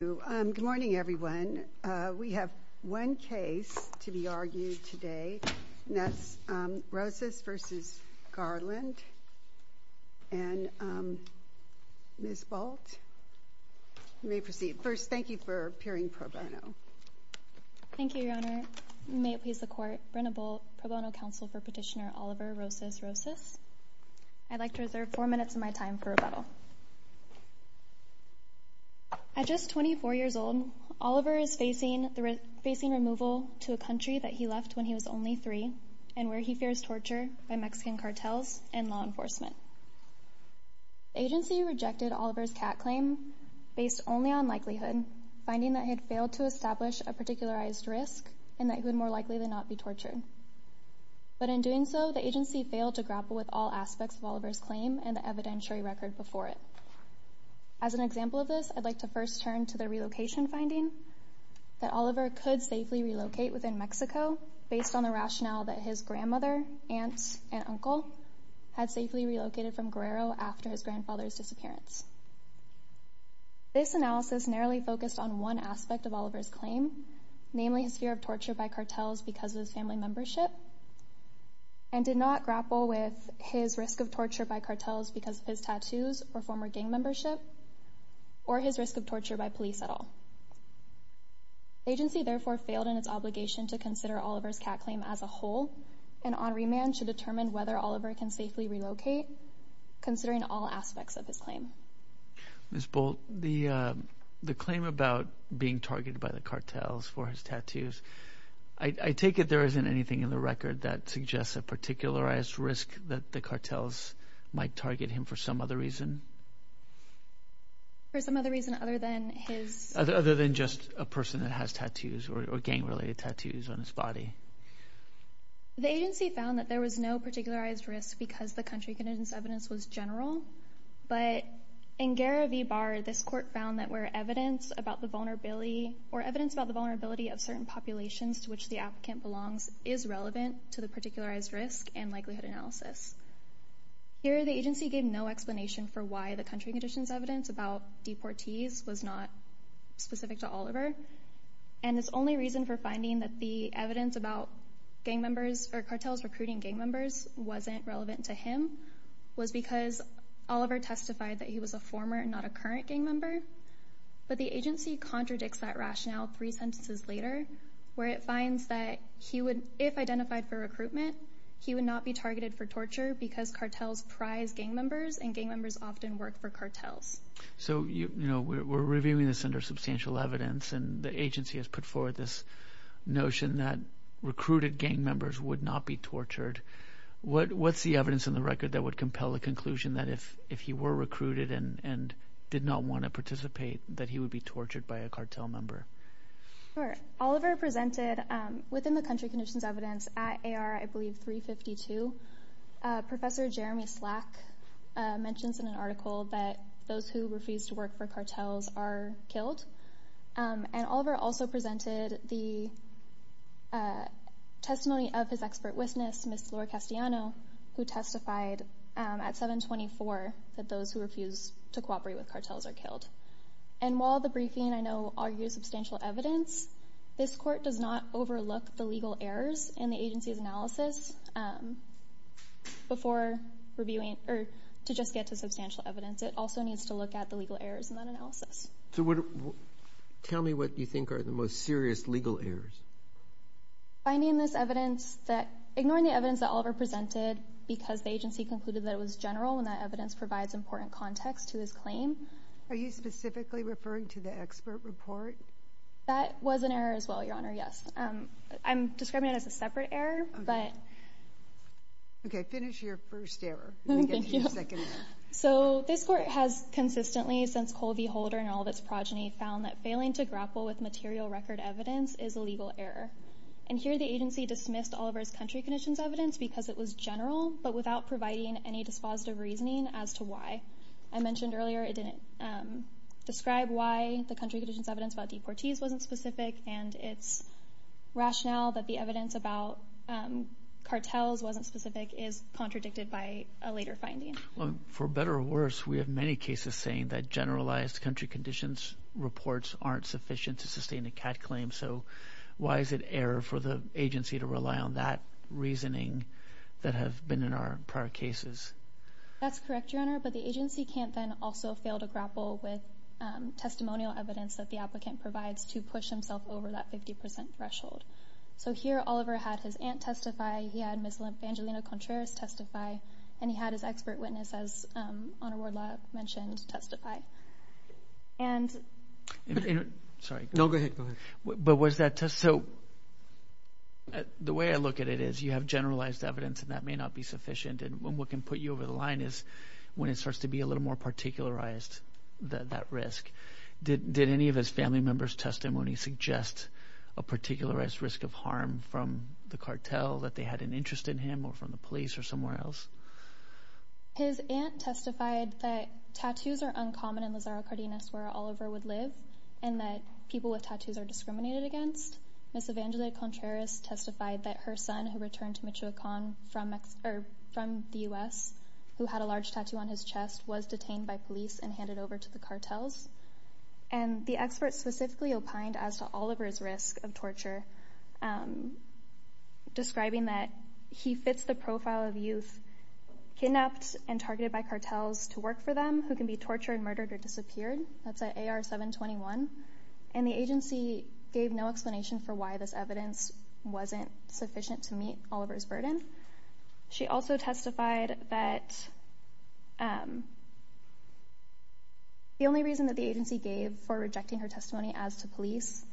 Good morning, everyone. We have one case to be argued today, and that's Rosas v. Garland, and Ms. Bolt, you may proceed. First, thank you for appearing pro bono. Thank you, Your Honor. May it please the Court, Brenna Bolt, pro bono counsel for Petitioner Oliver Rosas Rosas. I'd like to reserve four minutes of my time for rebuttal. At just 24 years old, Oliver is facing removal to a country that he left when he was only three and where he fears torture by Mexican cartels and law enforcement. The agency rejected Oliver's CAT claim based only on likelihood, finding that he had failed to establish a particularized risk and that he would more likely than not be tortured. But in doing so, the agency failed to grapple with all aspects of Oliver's claim and the evidentiary record before it. As an example of this, I'd like to first turn to the relocation finding that Oliver could safely relocate within Mexico based on the rationale that his grandmother, aunt, and uncle had safely relocated from Guerrero after his grandfather's disappearance. This analysis narrowly focused on one aspect of Oliver's claim, namely his fear of torture by cartels because of his family membership, and did not grapple with his risk of torture by cartels because of his tattoos or former gang membership or his risk of torture by police at all. The agency therefore failed in its obligation to consider Oliver's CAT claim as a whole, and on remand should determine whether Oliver can safely relocate, considering all aspects of his claim. Ms. Bolt, the claim about being targeted by the cartels for his tattoos, I take it there isn't anything in the record that suggests a particularized risk that the cartels might target him for some other reason? For some other reason other than his... Other than just a person that has tattoos or gang-related tattoos on his body. The agency found that there was no particularized risk because the country conditions evidence was general, but in Guerra v. Barr, this court found that where evidence about the vulnerability or evidence about the vulnerability of certain populations to which the applicant belongs is relevant to the particularized risk and likelihood analysis. Here, the agency gave no explanation for why the country conditions evidence about deportees was not specific to Oliver, and its only reason for finding that the evidence about gang members or cartels recruiting gang members wasn't relevant to him was because Oliver testified that he was a former and not a current gang member, but the agency contradicts that rationale three sentences later, where it finds that if identified for recruitment, he would not be targeted for torture because cartels prize gang members, and gang members often work for cartels. So we're reviewing this under substantial evidence, and the agency has put forward this notion that recruited gang members would not be tortured. What's the evidence in the record that would compel the conclusion that if he were recruited and did not want to participate, that he would be tortured by a cartel member? Sure. Oliver presented within the country conditions evidence at AR, I believe, 352. Professor Jeremy Slack mentions in an article that those who refuse to work for cartels are killed, and Oliver also presented the testimony of his expert witness, Ms. Laura Castellano, who testified at 724 that those who refuse to cooperate with cartels are killed. And while the briefing, I know, argues substantial evidence, this court does not overlook the legal errors in the agency's analysis before reviewing, or to just get to substantial evidence. It also needs to look at the legal errors in that analysis. So tell me what you think are the most serious legal errors. Finding this evidence that, ignoring the evidence that Oliver presented because the agency concluded that it was general and that evidence provides important context to his claim. Are you specifically referring to the expert report? That was an error as well, Your Honor, yes. I'm describing it as a separate error. Okay, finish your first error. So this court has consistently, since Colby Holder and all of its progeny, found that failing to grapple with material record evidence is a legal error. And here the agency dismissed Oliver's country conditions evidence because it was general, but without providing any dispositive reasoning as to why. I mentioned earlier it didn't describe why the country conditions evidence about deportees wasn't specific, and its rationale that the evidence about cartels wasn't specific is contradicted by a later finding. Well, for better or worse, we have many cases saying that generalized country conditions reports aren't sufficient to sustain a CAT claim. So why is it error for the agency to rely on that reasoning that have been in our prior cases? That's correct, Your Honor, but the agency can't then also fail to grapple with testimonial evidence that the applicant provides to push himself over that 50% threshold. So here Oliver had his aunt testify, he had Ms. Lymphangelina Contreras testify, and he had his expert witness, as Honor Wardlaw mentioned, testify. Sorry. No, go ahead. So the way I look at it is you have generalized evidence and that may not be sufficient, and what can put you over the line is when it starts to be a little more particularized, that risk. Did any of his family members' testimony suggest a particularized risk of harm from the cartel, that they had an interest in him, or from the police, or somewhere else? His aunt testified that tattoos are uncommon in Lazaro Cardenas, where Oliver would live, and that people with tattoos are discriminated against. Ms. Evangelina Contreras testified that her son, who returned to Michoacan from the U.S., who had a large tattoo on his chest, was detained by police and handed over to the cartels. And the expert specifically opined as to Oliver's risk of torture, describing that he fits the profile of youth kidnapped and targeted by cartels to work for them, who can be tortured, murdered, or disappeared. That's at AR-721. And the agency gave no explanation for why this evidence wasn't sufficient to meet Oliver's burden. She also testified that the only reason that the agency gave for rejecting her testimony as to police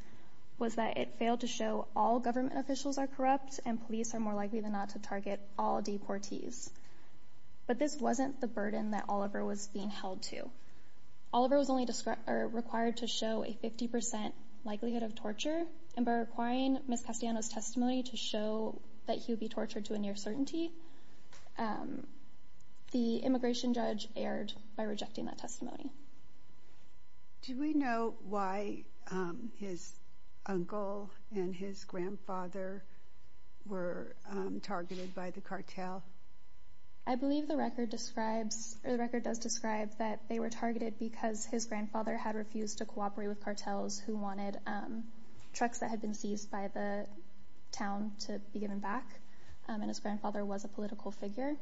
was that it failed to show all government officials are corrupt and police are more likely than not to target all deportees. But this wasn't the burden that Oliver was being held to. Oliver was only required to show a 50% likelihood of torture, and by requiring Ms. Castellanos' testimony to show that he would be tortured to a near certainty, the immigration judge erred by rejecting that testimony. Do we know why his uncle and his grandfather were targeted by the cartel? I believe the record describes, or the record does describe, that they were targeted because his grandfather had refused to cooperate with cartels who wanted trucks that had been seized by the town to be given back, and his grandfather was a political figure.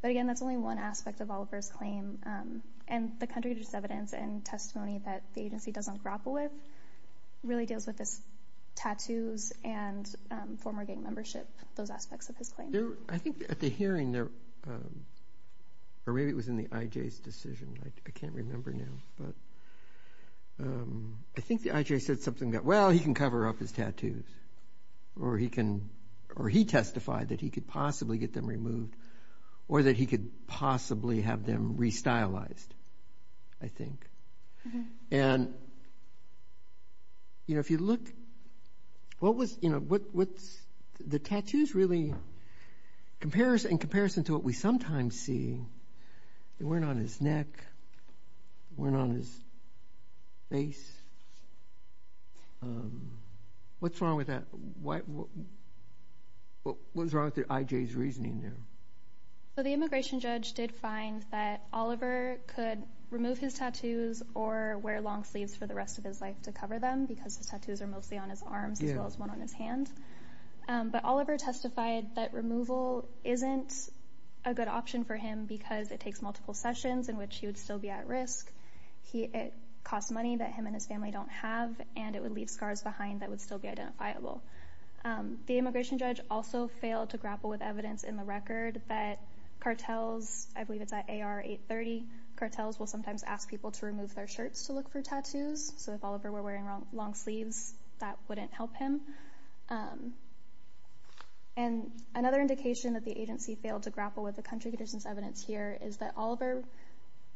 But again, that's only one aspect of Oliver's claim, and the contradictory evidence and testimony that the agency doesn't grapple with really deals with his tattoos and former gang membership, those aspects of his claim. I think at the hearing, or maybe it was in the IJ's decision, I can't remember now, but I think the IJ said something about, well, he can cover up his tattoos, or he testified that he could possibly get them removed or that he could possibly have them restylized, I think. And if you look, the tattoos really, in comparison to what we sometimes see, they weren't on his neck, they weren't on his face. What's wrong with that? What's wrong with the IJ's reasoning there? The immigration judge did find that Oliver could remove his tattoos or wear long sleeves for the rest of his life to cover them because his tattoos are mostly on his arms as well as one on his hand. But Oliver testified that removal isn't a good option for him because it takes multiple sessions in which he would still be at risk, it costs money that him and his family don't have, and it would leave scars behind that would still be identifiable. The immigration judge also failed to grapple with evidence in the record that cartels, I believe it's at AR 830, cartels will sometimes ask people to remove their shirts to look for tattoos, so if Oliver were wearing long sleeves, that wouldn't help him. And another indication that the agency failed to grapple with the country conditions evidence here is that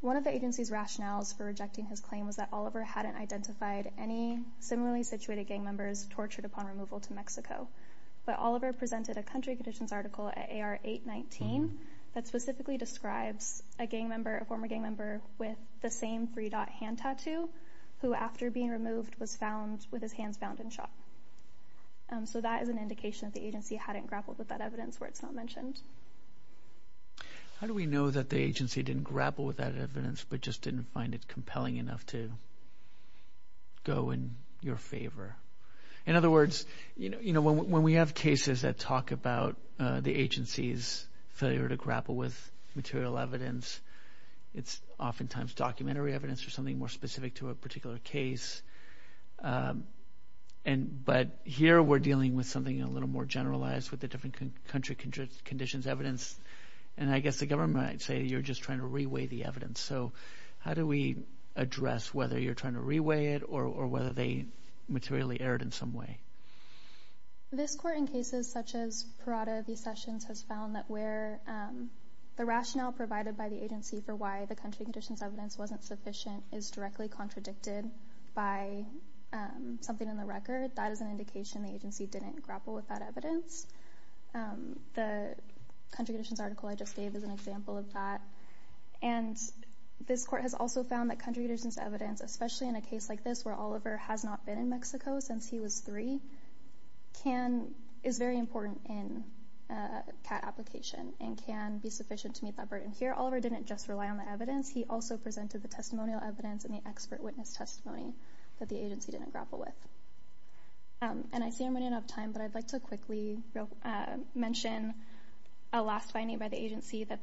one of the agency's rationales for rejecting his claim was that Oliver hadn't identified any similarly situated gang members tortured upon removal to Mexico. But Oliver presented a country conditions article at AR 819 that specifically describes a former gang member with the same three-dot hand tattoo who after being removed was found with his hands bound and shot. So that is an indication that the agency hadn't grappled with that evidence where it's not mentioned. How do we know that the agency didn't grapple with that evidence but just didn't find it compelling enough to go in your favor? In other words, when we have cases that talk about the agency's failure to grapple with material evidence, it's oftentimes documentary evidence or something more specific to a particular case. But here we're dealing with something a little more generalized with the different country conditions evidence, and I guess the government might say you're just trying to re-weigh the evidence. So how do we address whether you're trying to re-weigh it or whether they materially erred in some way? This court in cases such as Parada v. Sessions has found that where the rationale provided by the agency for why the country conditions evidence wasn't sufficient is directly contradicted by something in the record. That is an indication the agency didn't grapple with that evidence. The country conditions article I just gave is an example of that. This court has also found that country conditions evidence, especially in a case like this where Oliver has not been in Mexico since he was 3, is very important in a CAT application and can be sufficient to meet that burden. Here Oliver didn't just rely on the evidence. He also presented the testimonial evidence and the expert witness testimony that the agency didn't grapple with. I see I'm running out of time, but I'd like to quickly mention a last finding by the agency that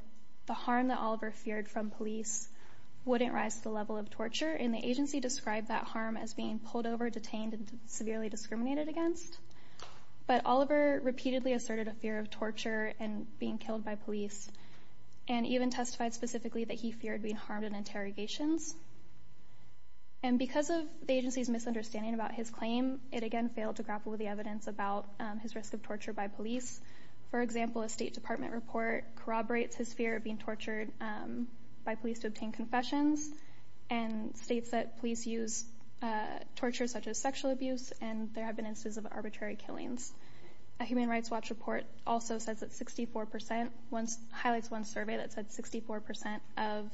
the harm that Oliver feared from police wouldn't rise to the level of torture, and the agency described that harm as being pulled over, detained, and severely discriminated against. But Oliver repeatedly asserted a fear of torture and being killed by police and even testified specifically that he feared being harmed in interrogations. Because of the agency's misunderstanding about his claim, it again failed to grapple with the evidence about his risk of torture by police. For example, a State Department report corroborates his fear of being tortured by police to obtain confessions and states that police use torture such as sexual abuse and there have been instances of arbitrary killings. A Human Rights Watch report also says that 64% highlights one survey that said 64% of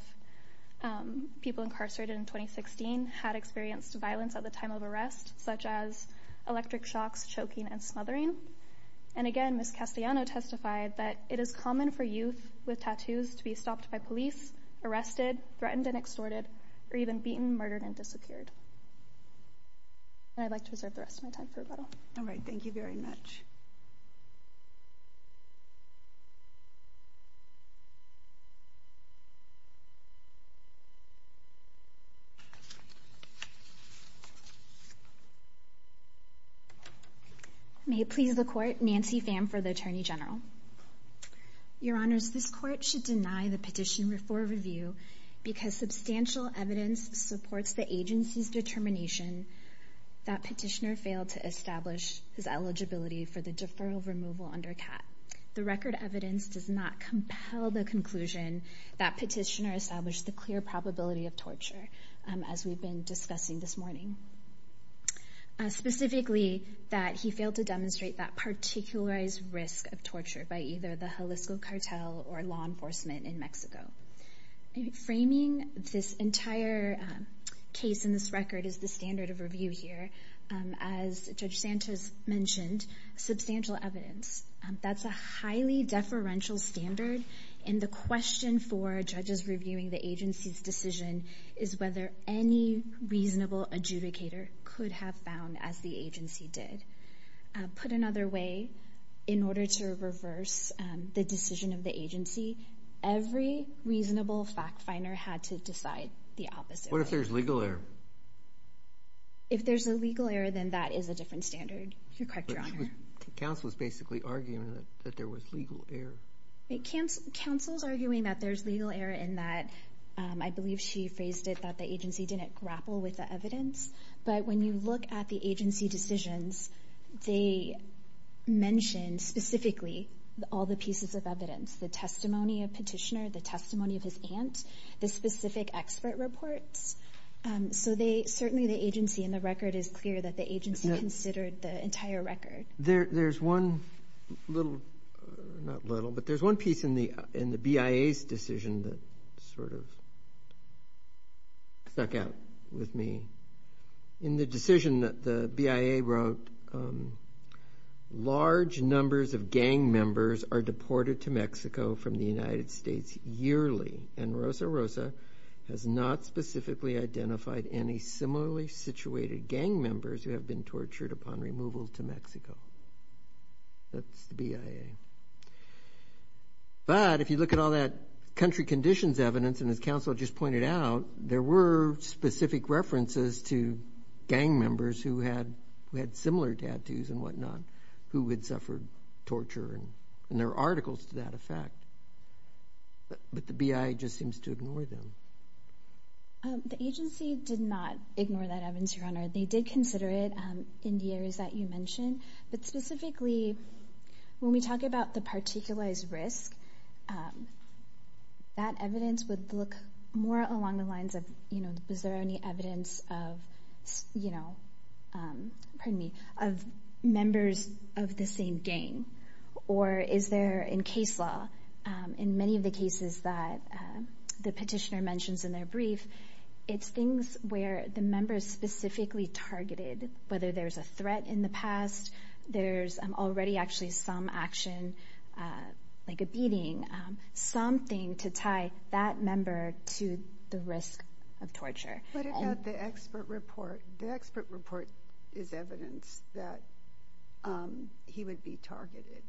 people incarcerated in 2016 had experienced violence at the time of arrest, such as electric shocks, choking, and smothering. And again, Ms. Castellano testified that it is common for youth with tattoos to be stopped by police, arrested, threatened and extorted, or even beaten, murdered, and disappeared. And I'd like to reserve the rest of my time for rebuttal. All right, thank you very much. Nancy Pham May it please the Court, Nancy Pham for the Attorney General. Your Honors, this Court should deny the petition for review because substantial evidence supports the agency's determination that Petitioner failed to establish his eligibility for the deferral removal under CAT. The record evidence does not compel the conclusion that Petitioner established the clear probability of torture, as we've been discussing this morning. Specifically, that he failed to demonstrate that particularized risk of torture by either the Jalisco cartel or law enforcement in Mexico. Framing this entire case in this record is the standard of review here. As Judge Santos mentioned, substantial evidence. That's a highly deferential standard, and the question for judges reviewing the agency's decision is whether any reasonable adjudicator could have found, as the agency did. Put another way, in order to reverse the decision of the agency, every reasonable fact finder had to decide the opposite. What if there's legal error? If there's a legal error, then that is a different standard. You're correct, Your Honor. The counsel is basically arguing that there was legal error. The counsel is arguing that there's legal error in that, I believe she phrased it that the agency didn't grapple with the evidence. But when you look at the agency decisions, they mention specifically all the pieces of evidence, the testimony of Petitioner, the testimony of his aunt, the specific expert reports. So certainly the agency in the record is clear that the agency considered the entire record. There's one piece in the BIA's decision that sort of stuck out with me. In the decision that the BIA wrote, large numbers of gang members are deported to Mexico from the United States yearly, and Rosa Rosa has not specifically identified any similarly situated gang members who have been tortured upon removal to Mexico. That's the BIA. But if you look at all that country conditions evidence, and as counsel just pointed out, there were specific references to gang members who had similar tattoos and whatnot who had suffered torture, and there are articles to that effect. But the BIA just seems to ignore them. The agency did not ignore that evidence, Your Honor. They did consider it in the areas that you mentioned, but specifically when we talk about the particularized risk, that evidence would look more along the lines of, you know, is there any evidence of, you know, pardon me, of members of the same gang, or is there in case law, in many of the cases that the petitioner mentions in their brief, it's things where the member is specifically targeted, whether there's a threat in the past, there's already actually some action, like a beating, something to tie that member to the risk of torture. What about the expert report? The expert report is evidence that he would be targeted.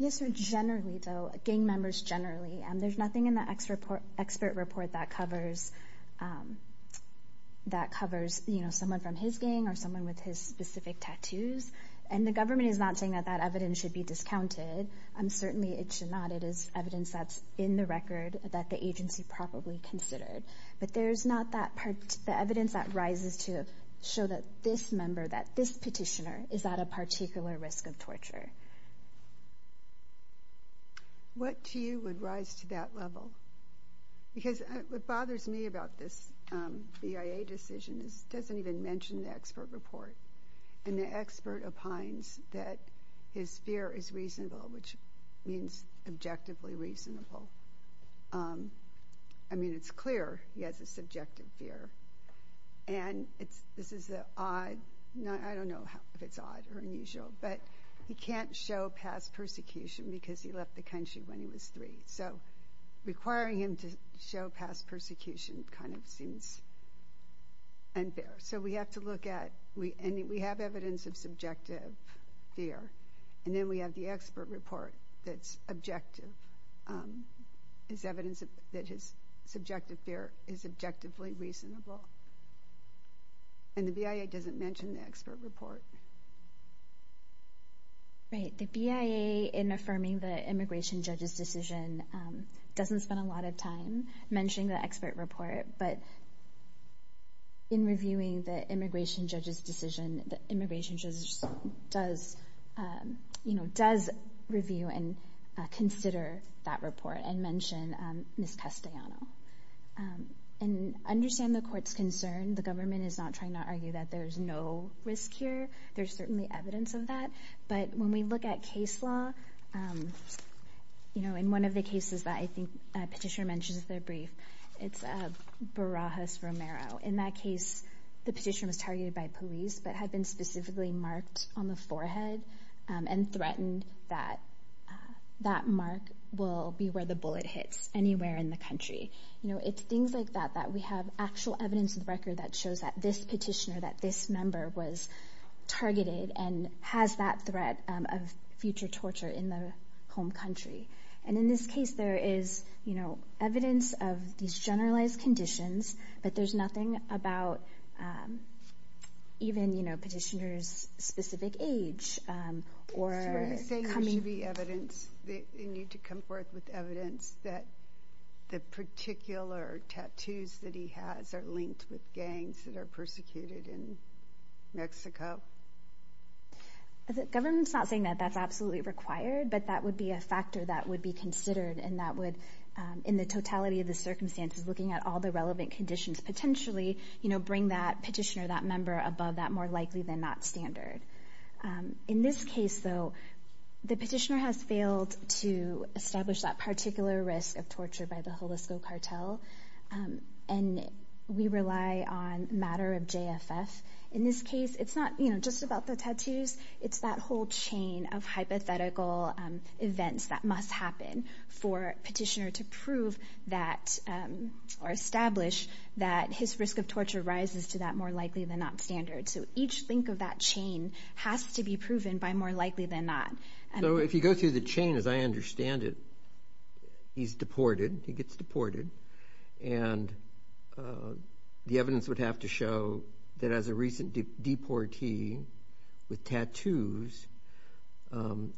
Yes, sir, generally, though, gang members generally. There's nothing in the expert report that covers, you know, someone from his gang or someone with his specific tattoos. And the government is not saying that that evidence should be discounted. Certainly it should not. It is evidence that's in the record that the agency probably considered. But there's not the evidence that rises to show that this member, that this petitioner, is at a particular risk of torture. What to you would rise to that level? Because what bothers me about this BIA decision is it doesn't even mention the expert report, and the expert opines that his fear is reasonable, which means objectively reasonable. I mean, it's clear he has a subjective fear. And this is an odd, I don't know if it's odd or unusual, but he can't show past persecution because he left the country when he was three. So requiring him to show past persecution kind of seems unfair. So we have to look at, and we have evidence of subjective fear, and then we have the expert report that's objective. It's evidence that his subjective fear is objectively reasonable. And the BIA doesn't mention the expert report. Right. The BIA, in affirming the immigration judge's decision, doesn't spend a lot of time mentioning the expert report. But in reviewing the immigration judge's decision, the immigration judge does review and consider that report and mention Ms. Castellano. And I understand the court's concern. The government is not trying to argue that there's no risk here. There's certainly evidence of that. But when we look at case law, in one of the cases that I think a petitioner mentions in their brief, it's Barajas-Romero. In that case, the petitioner was targeted by police but had been specifically marked on the forehead and threatened that that mark will be where the bullet hits anywhere in the country. It's things like that that we have actual evidence of the record that shows that this petitioner, that this member, was targeted and has that threat of future torture in their home country. And in this case, there is, you know, evidence of these generalized conditions, but there's nothing about even, you know, petitioner's specific age. Are you saying there should be evidence, they need to come forth with evidence that the particular tattoos that he has are linked with gangs that are persecuted in Mexico? The government's not saying that that's absolutely required, but that would be a factor that would be considered, and that would, in the totality of the circumstances, looking at all the relevant conditions, potentially, you know, bring that petitioner, that member, above that, more likely than not standard. In this case, though, the petitioner has failed to establish that particular risk of torture by the Jalisco cartel, and we rely on matter of JFF. In this case, it's not, you know, just about the tattoos. It's that whole chain of hypothetical events that must happen for petitioner to prove that or establish that his risk of torture rises to that more likely than not standard. So each link of that chain has to be proven by more likely than not. So if you go through the chain, as I understand it, he's deported, he gets deported, and the evidence would have to show that, as a recent deportee with tattoos,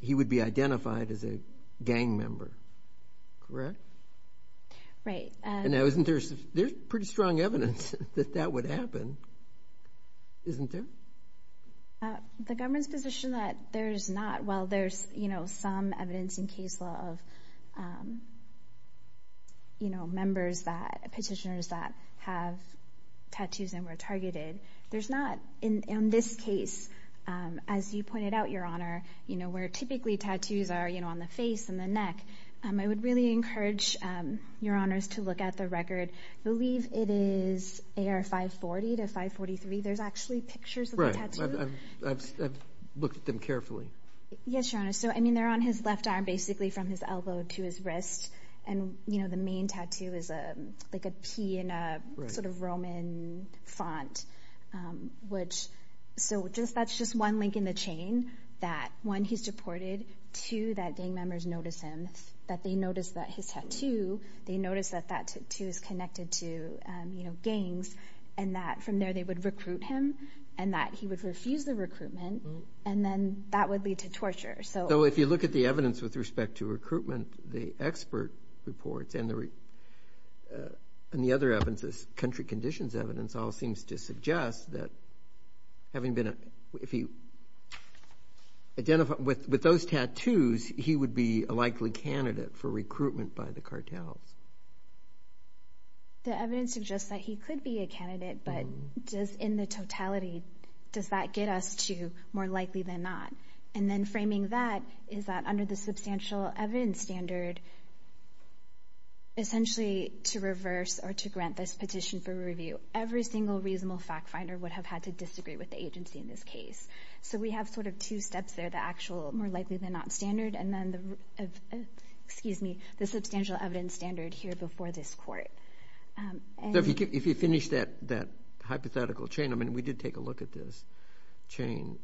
he would be identified as a gang member. Correct? Right. Now, isn't there pretty strong evidence that that would happen? Isn't there? The government's position that there's not, well, there's, you know, some evidence in case law of, you know, members that, petitioners that have tattoos and were targeted. There's not in this case, as you pointed out, Your Honor, you know, where typically tattoos are, you know, on the face and the neck. I would really encourage Your Honors to look at the record. I believe it is AR 540 to 543. There's actually pictures of the tattoo. I've looked at them carefully. Yes, Your Honor. So, I mean, they're on his left arm basically from his elbow to his wrist. And, you know, the main tattoo is like a P in a sort of Roman font, which, so that's just one link in the chain that, one, he's deported, two, that gang members notice him, that they notice that his tattoo, they notice that that tattoo is connected to, you know, gangs, and that from there they would recruit him, and that he would refuse the recruitment, and then that would lead to torture. So if you look at the evidence with respect to recruitment, the expert reports and the other evidence, this country conditions evidence, all seems to suggest that having been a, if he, with those tattoos, he would be a likely candidate for recruitment by the cartels. The evidence suggests that he could be a candidate, but does in the totality, does that get us to more likely than not? And then framing that is that under the substantial evidence standard, essentially to reverse or to grant this petition for review, every single reasonable fact finder would have had to disagree with the agency in this case. So we have sort of two steps there, the actual more likely than not standard and then the, excuse me, the substantial evidence standard here before this court. If you finish that hypothetical chain, I mean, we did take a look at this chain.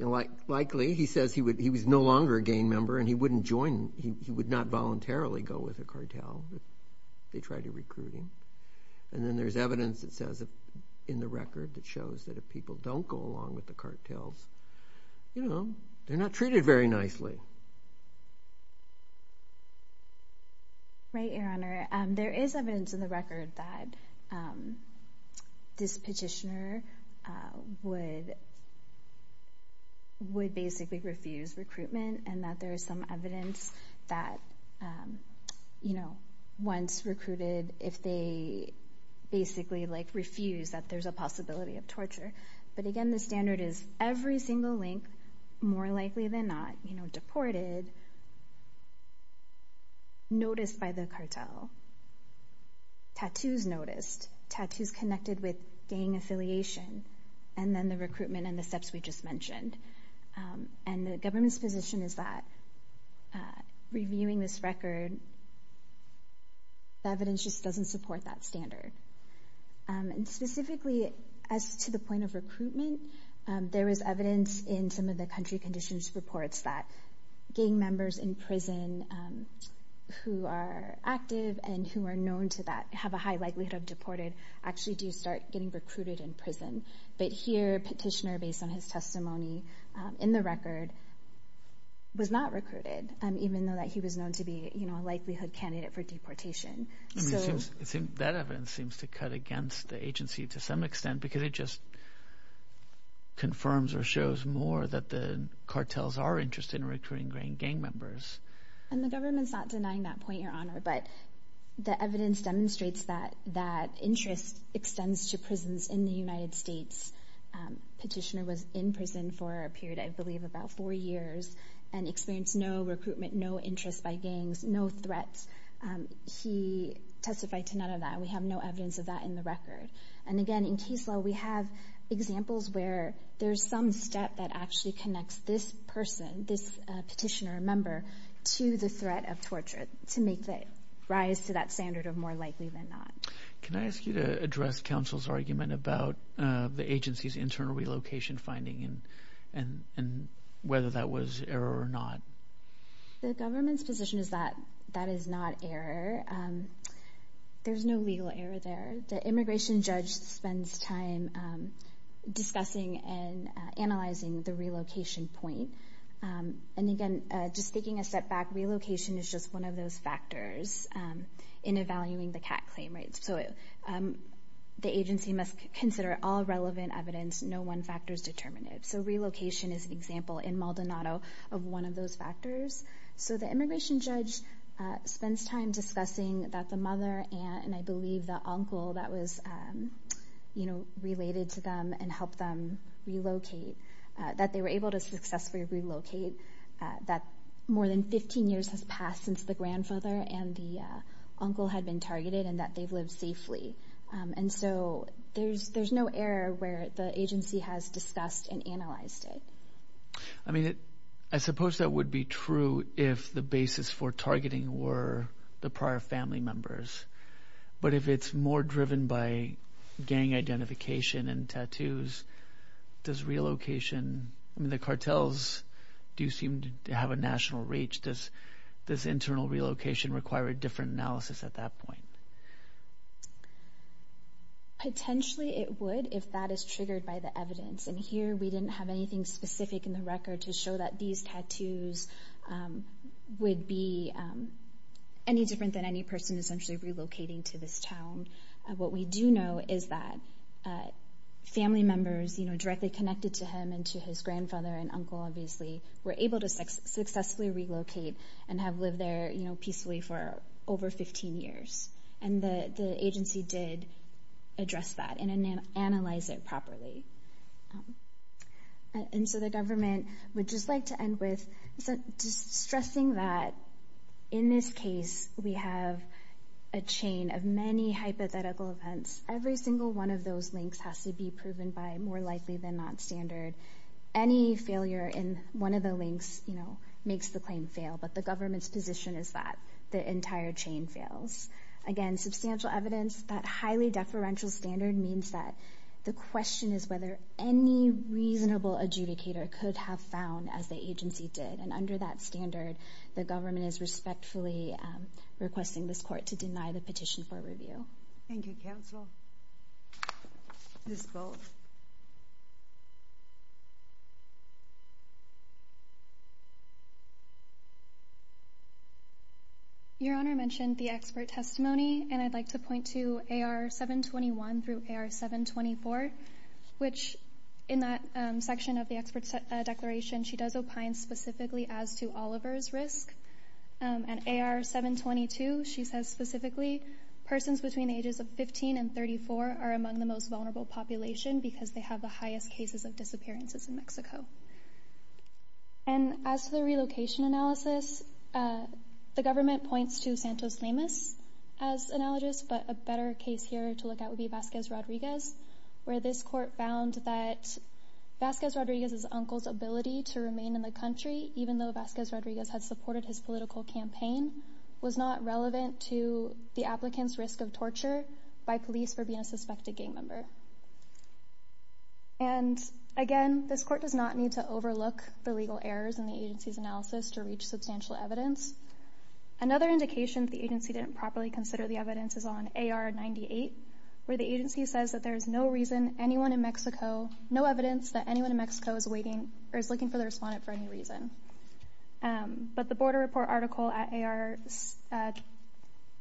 Likely, he says he was no longer a gang member and he wouldn't join, he would not voluntarily go with a cartel if they tried to recruit him. And then there's evidence that says, in the record, that shows that if people don't go along with the cartels, you know, they're not treated very nicely. Right, Your Honor. There is evidence in the record that this petitioner would basically refuse recruitment and that there is some evidence that, you know, once recruited, if they basically, like, refuse that there's a possibility of torture. But again, the standard is every single link, more likely than not, you know, deported, noticed by the cartel, tattoos noticed, tattoos connected with gang affiliation, and then the recruitment and the steps we just mentioned. And the government's position is that reviewing this record, the evidence just doesn't support that standard. And specifically, as to the point of recruitment, there is evidence in some of the country conditions reports that gang members in prison who are active and who are known to have a high likelihood of deported actually do start getting recruited in prison. But here, petitioner, based on his testimony, in the record, was not recruited, even though he was known to be a likelihood candidate for deportation. That evidence seems to cut against the agency to some extent because it just confirms or shows more that the cartels are interested in recruiting gang members. And the government's not denying that point, Your Honor, but the evidence demonstrates that that interest extends to prisons in the United States. Petitioner was in prison for a period, I believe, about four years and experienced no recruitment, no interest by gangs, no threats. He testified to none of that. We have no evidence of that in the record. And again, in case law, we have examples where there's some step that actually connects this person, this petitioner or member, to the threat of torture to make the rise to that standard of more likely than not. Can I ask you to address counsel's argument about the agency's internal relocation finding and whether that was error or not? The government's position is that that is not error. There's no legal error there. The immigration judge spends time discussing and analyzing the relocation point. And again, just taking a step back, relocation is just one of those factors in evaluating the CAT claim, right? So the agency must consider all relevant evidence, no one factor is determinative. So relocation is an example in Maldonado of one of those factors. So the immigration judge spends time discussing that the mother and I believe the uncle that was related to them and helped them relocate, that they were able to successfully relocate, that more than 15 years has passed since the grandfather and the uncle had been targeted and that they've lived safely. And so there's no error where the agency has discussed and analyzed it. I mean, I suppose that would be true if the basis for targeting were the prior family members. But if it's more driven by gang identification and tattoos, does relocation – I mean, the cartels do seem to have a national reach. Does internal relocation require a different analysis at that point? Potentially it would if that is triggered by the evidence. And here we didn't have anything specific in the record to show that these tattoos would be any different than any person essentially relocating to this town. What we do know is that family members directly connected to him and to his grandfather and uncle obviously were able to successfully relocate and have lived there peacefully for over 15 years. And the agency did address that and analyze it properly. And so the government would just like to end with just stressing that in this case we have a chain of many hypothetical events. Every single one of those links has to be proven by more likely than not standard. Any failure in one of the links makes the claim fail, but the government's position is that the entire chain fails. Again, substantial evidence, that highly deferential standard means that the question is whether any reasonable adjudicator could have found as the agency did. And under that standard, the government is respectfully requesting this court to deny the petition for review. Thank you, counsel. Ms. Bowles. Your Honor, I mentioned the expert testimony, and I'd like to point to AR721 through AR724, which in that section of the expert declaration she does opine specifically as to Oliver's risk. And AR722, she says specifically, persons between the ages of 15 and 34 are among the most vulnerable population because they have the highest cases of disappearances in Mexico. And as for the relocation analysis, the government points to Santos Lemus as analogist, but a better case here to look at would be Vasquez Rodriguez, where this court found that Vasquez Rodriguez's uncle's ability to remain in the country, even though Vasquez Rodriguez had supported his political campaign, was not relevant to the applicant's risk of torture by police for being a suspected gang member. And again, this court does not need to overlook the legal errors in the agency's analysis to reach substantial evidence. Another indication that the agency didn't properly consider the evidence is on AR98, where the agency says that there is no reason anyone in Mexico, no evidence that anyone in Mexico is waiting or is looking for the respondent for any reason. But the border report article at AR, I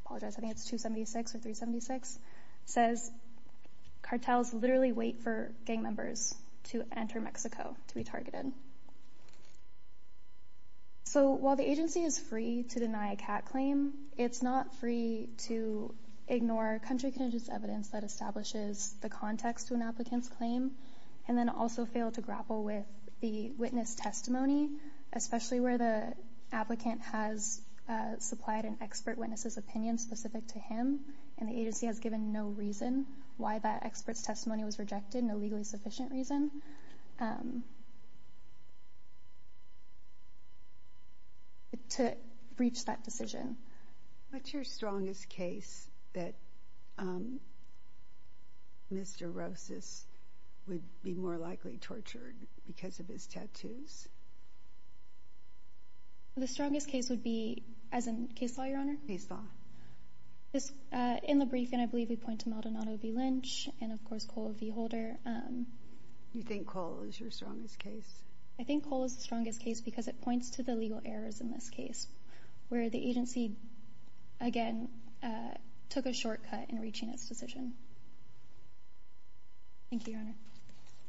apologize, I think it's 276 or 376, says cartels literally wait for gang members to enter Mexico to be targeted. So while the agency is free to deny a CAT claim, it's not free to ignore country conditions evidence that establishes the context of an applicant's claim and then also fail to grapple with the witness testimony, especially where the applicant has supplied an expert witness's opinion specific to him and the agency has given no reason why that expert's testimony was rejected, no legally sufficient reason to breach that decision. What's your strongest case that Mr. Rosas would be more likely tortured because of his tattoos? The strongest case would be, as in case law, Your Honor? Case law. In the briefing, I believe we point to Maldonado v. Lynch and of course Cole v. Holder. You think Cole is your strongest case? I think Cole is the strongest case because it points to the legal errors in this case, where the agency, again, took a shortcut in reaching its decision. Thank you, Your Honor.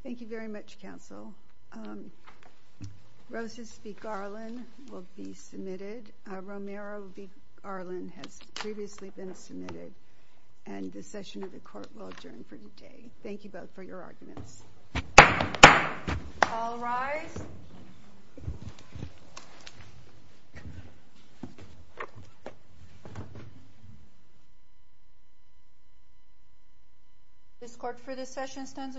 Thank you very much, counsel. Rosas v. Garland will be submitted. Romero v. Garland has previously been submitted, and the session of the court will adjourn for today. Thank you both for your arguments. All rise. This court for this session stands adjourned.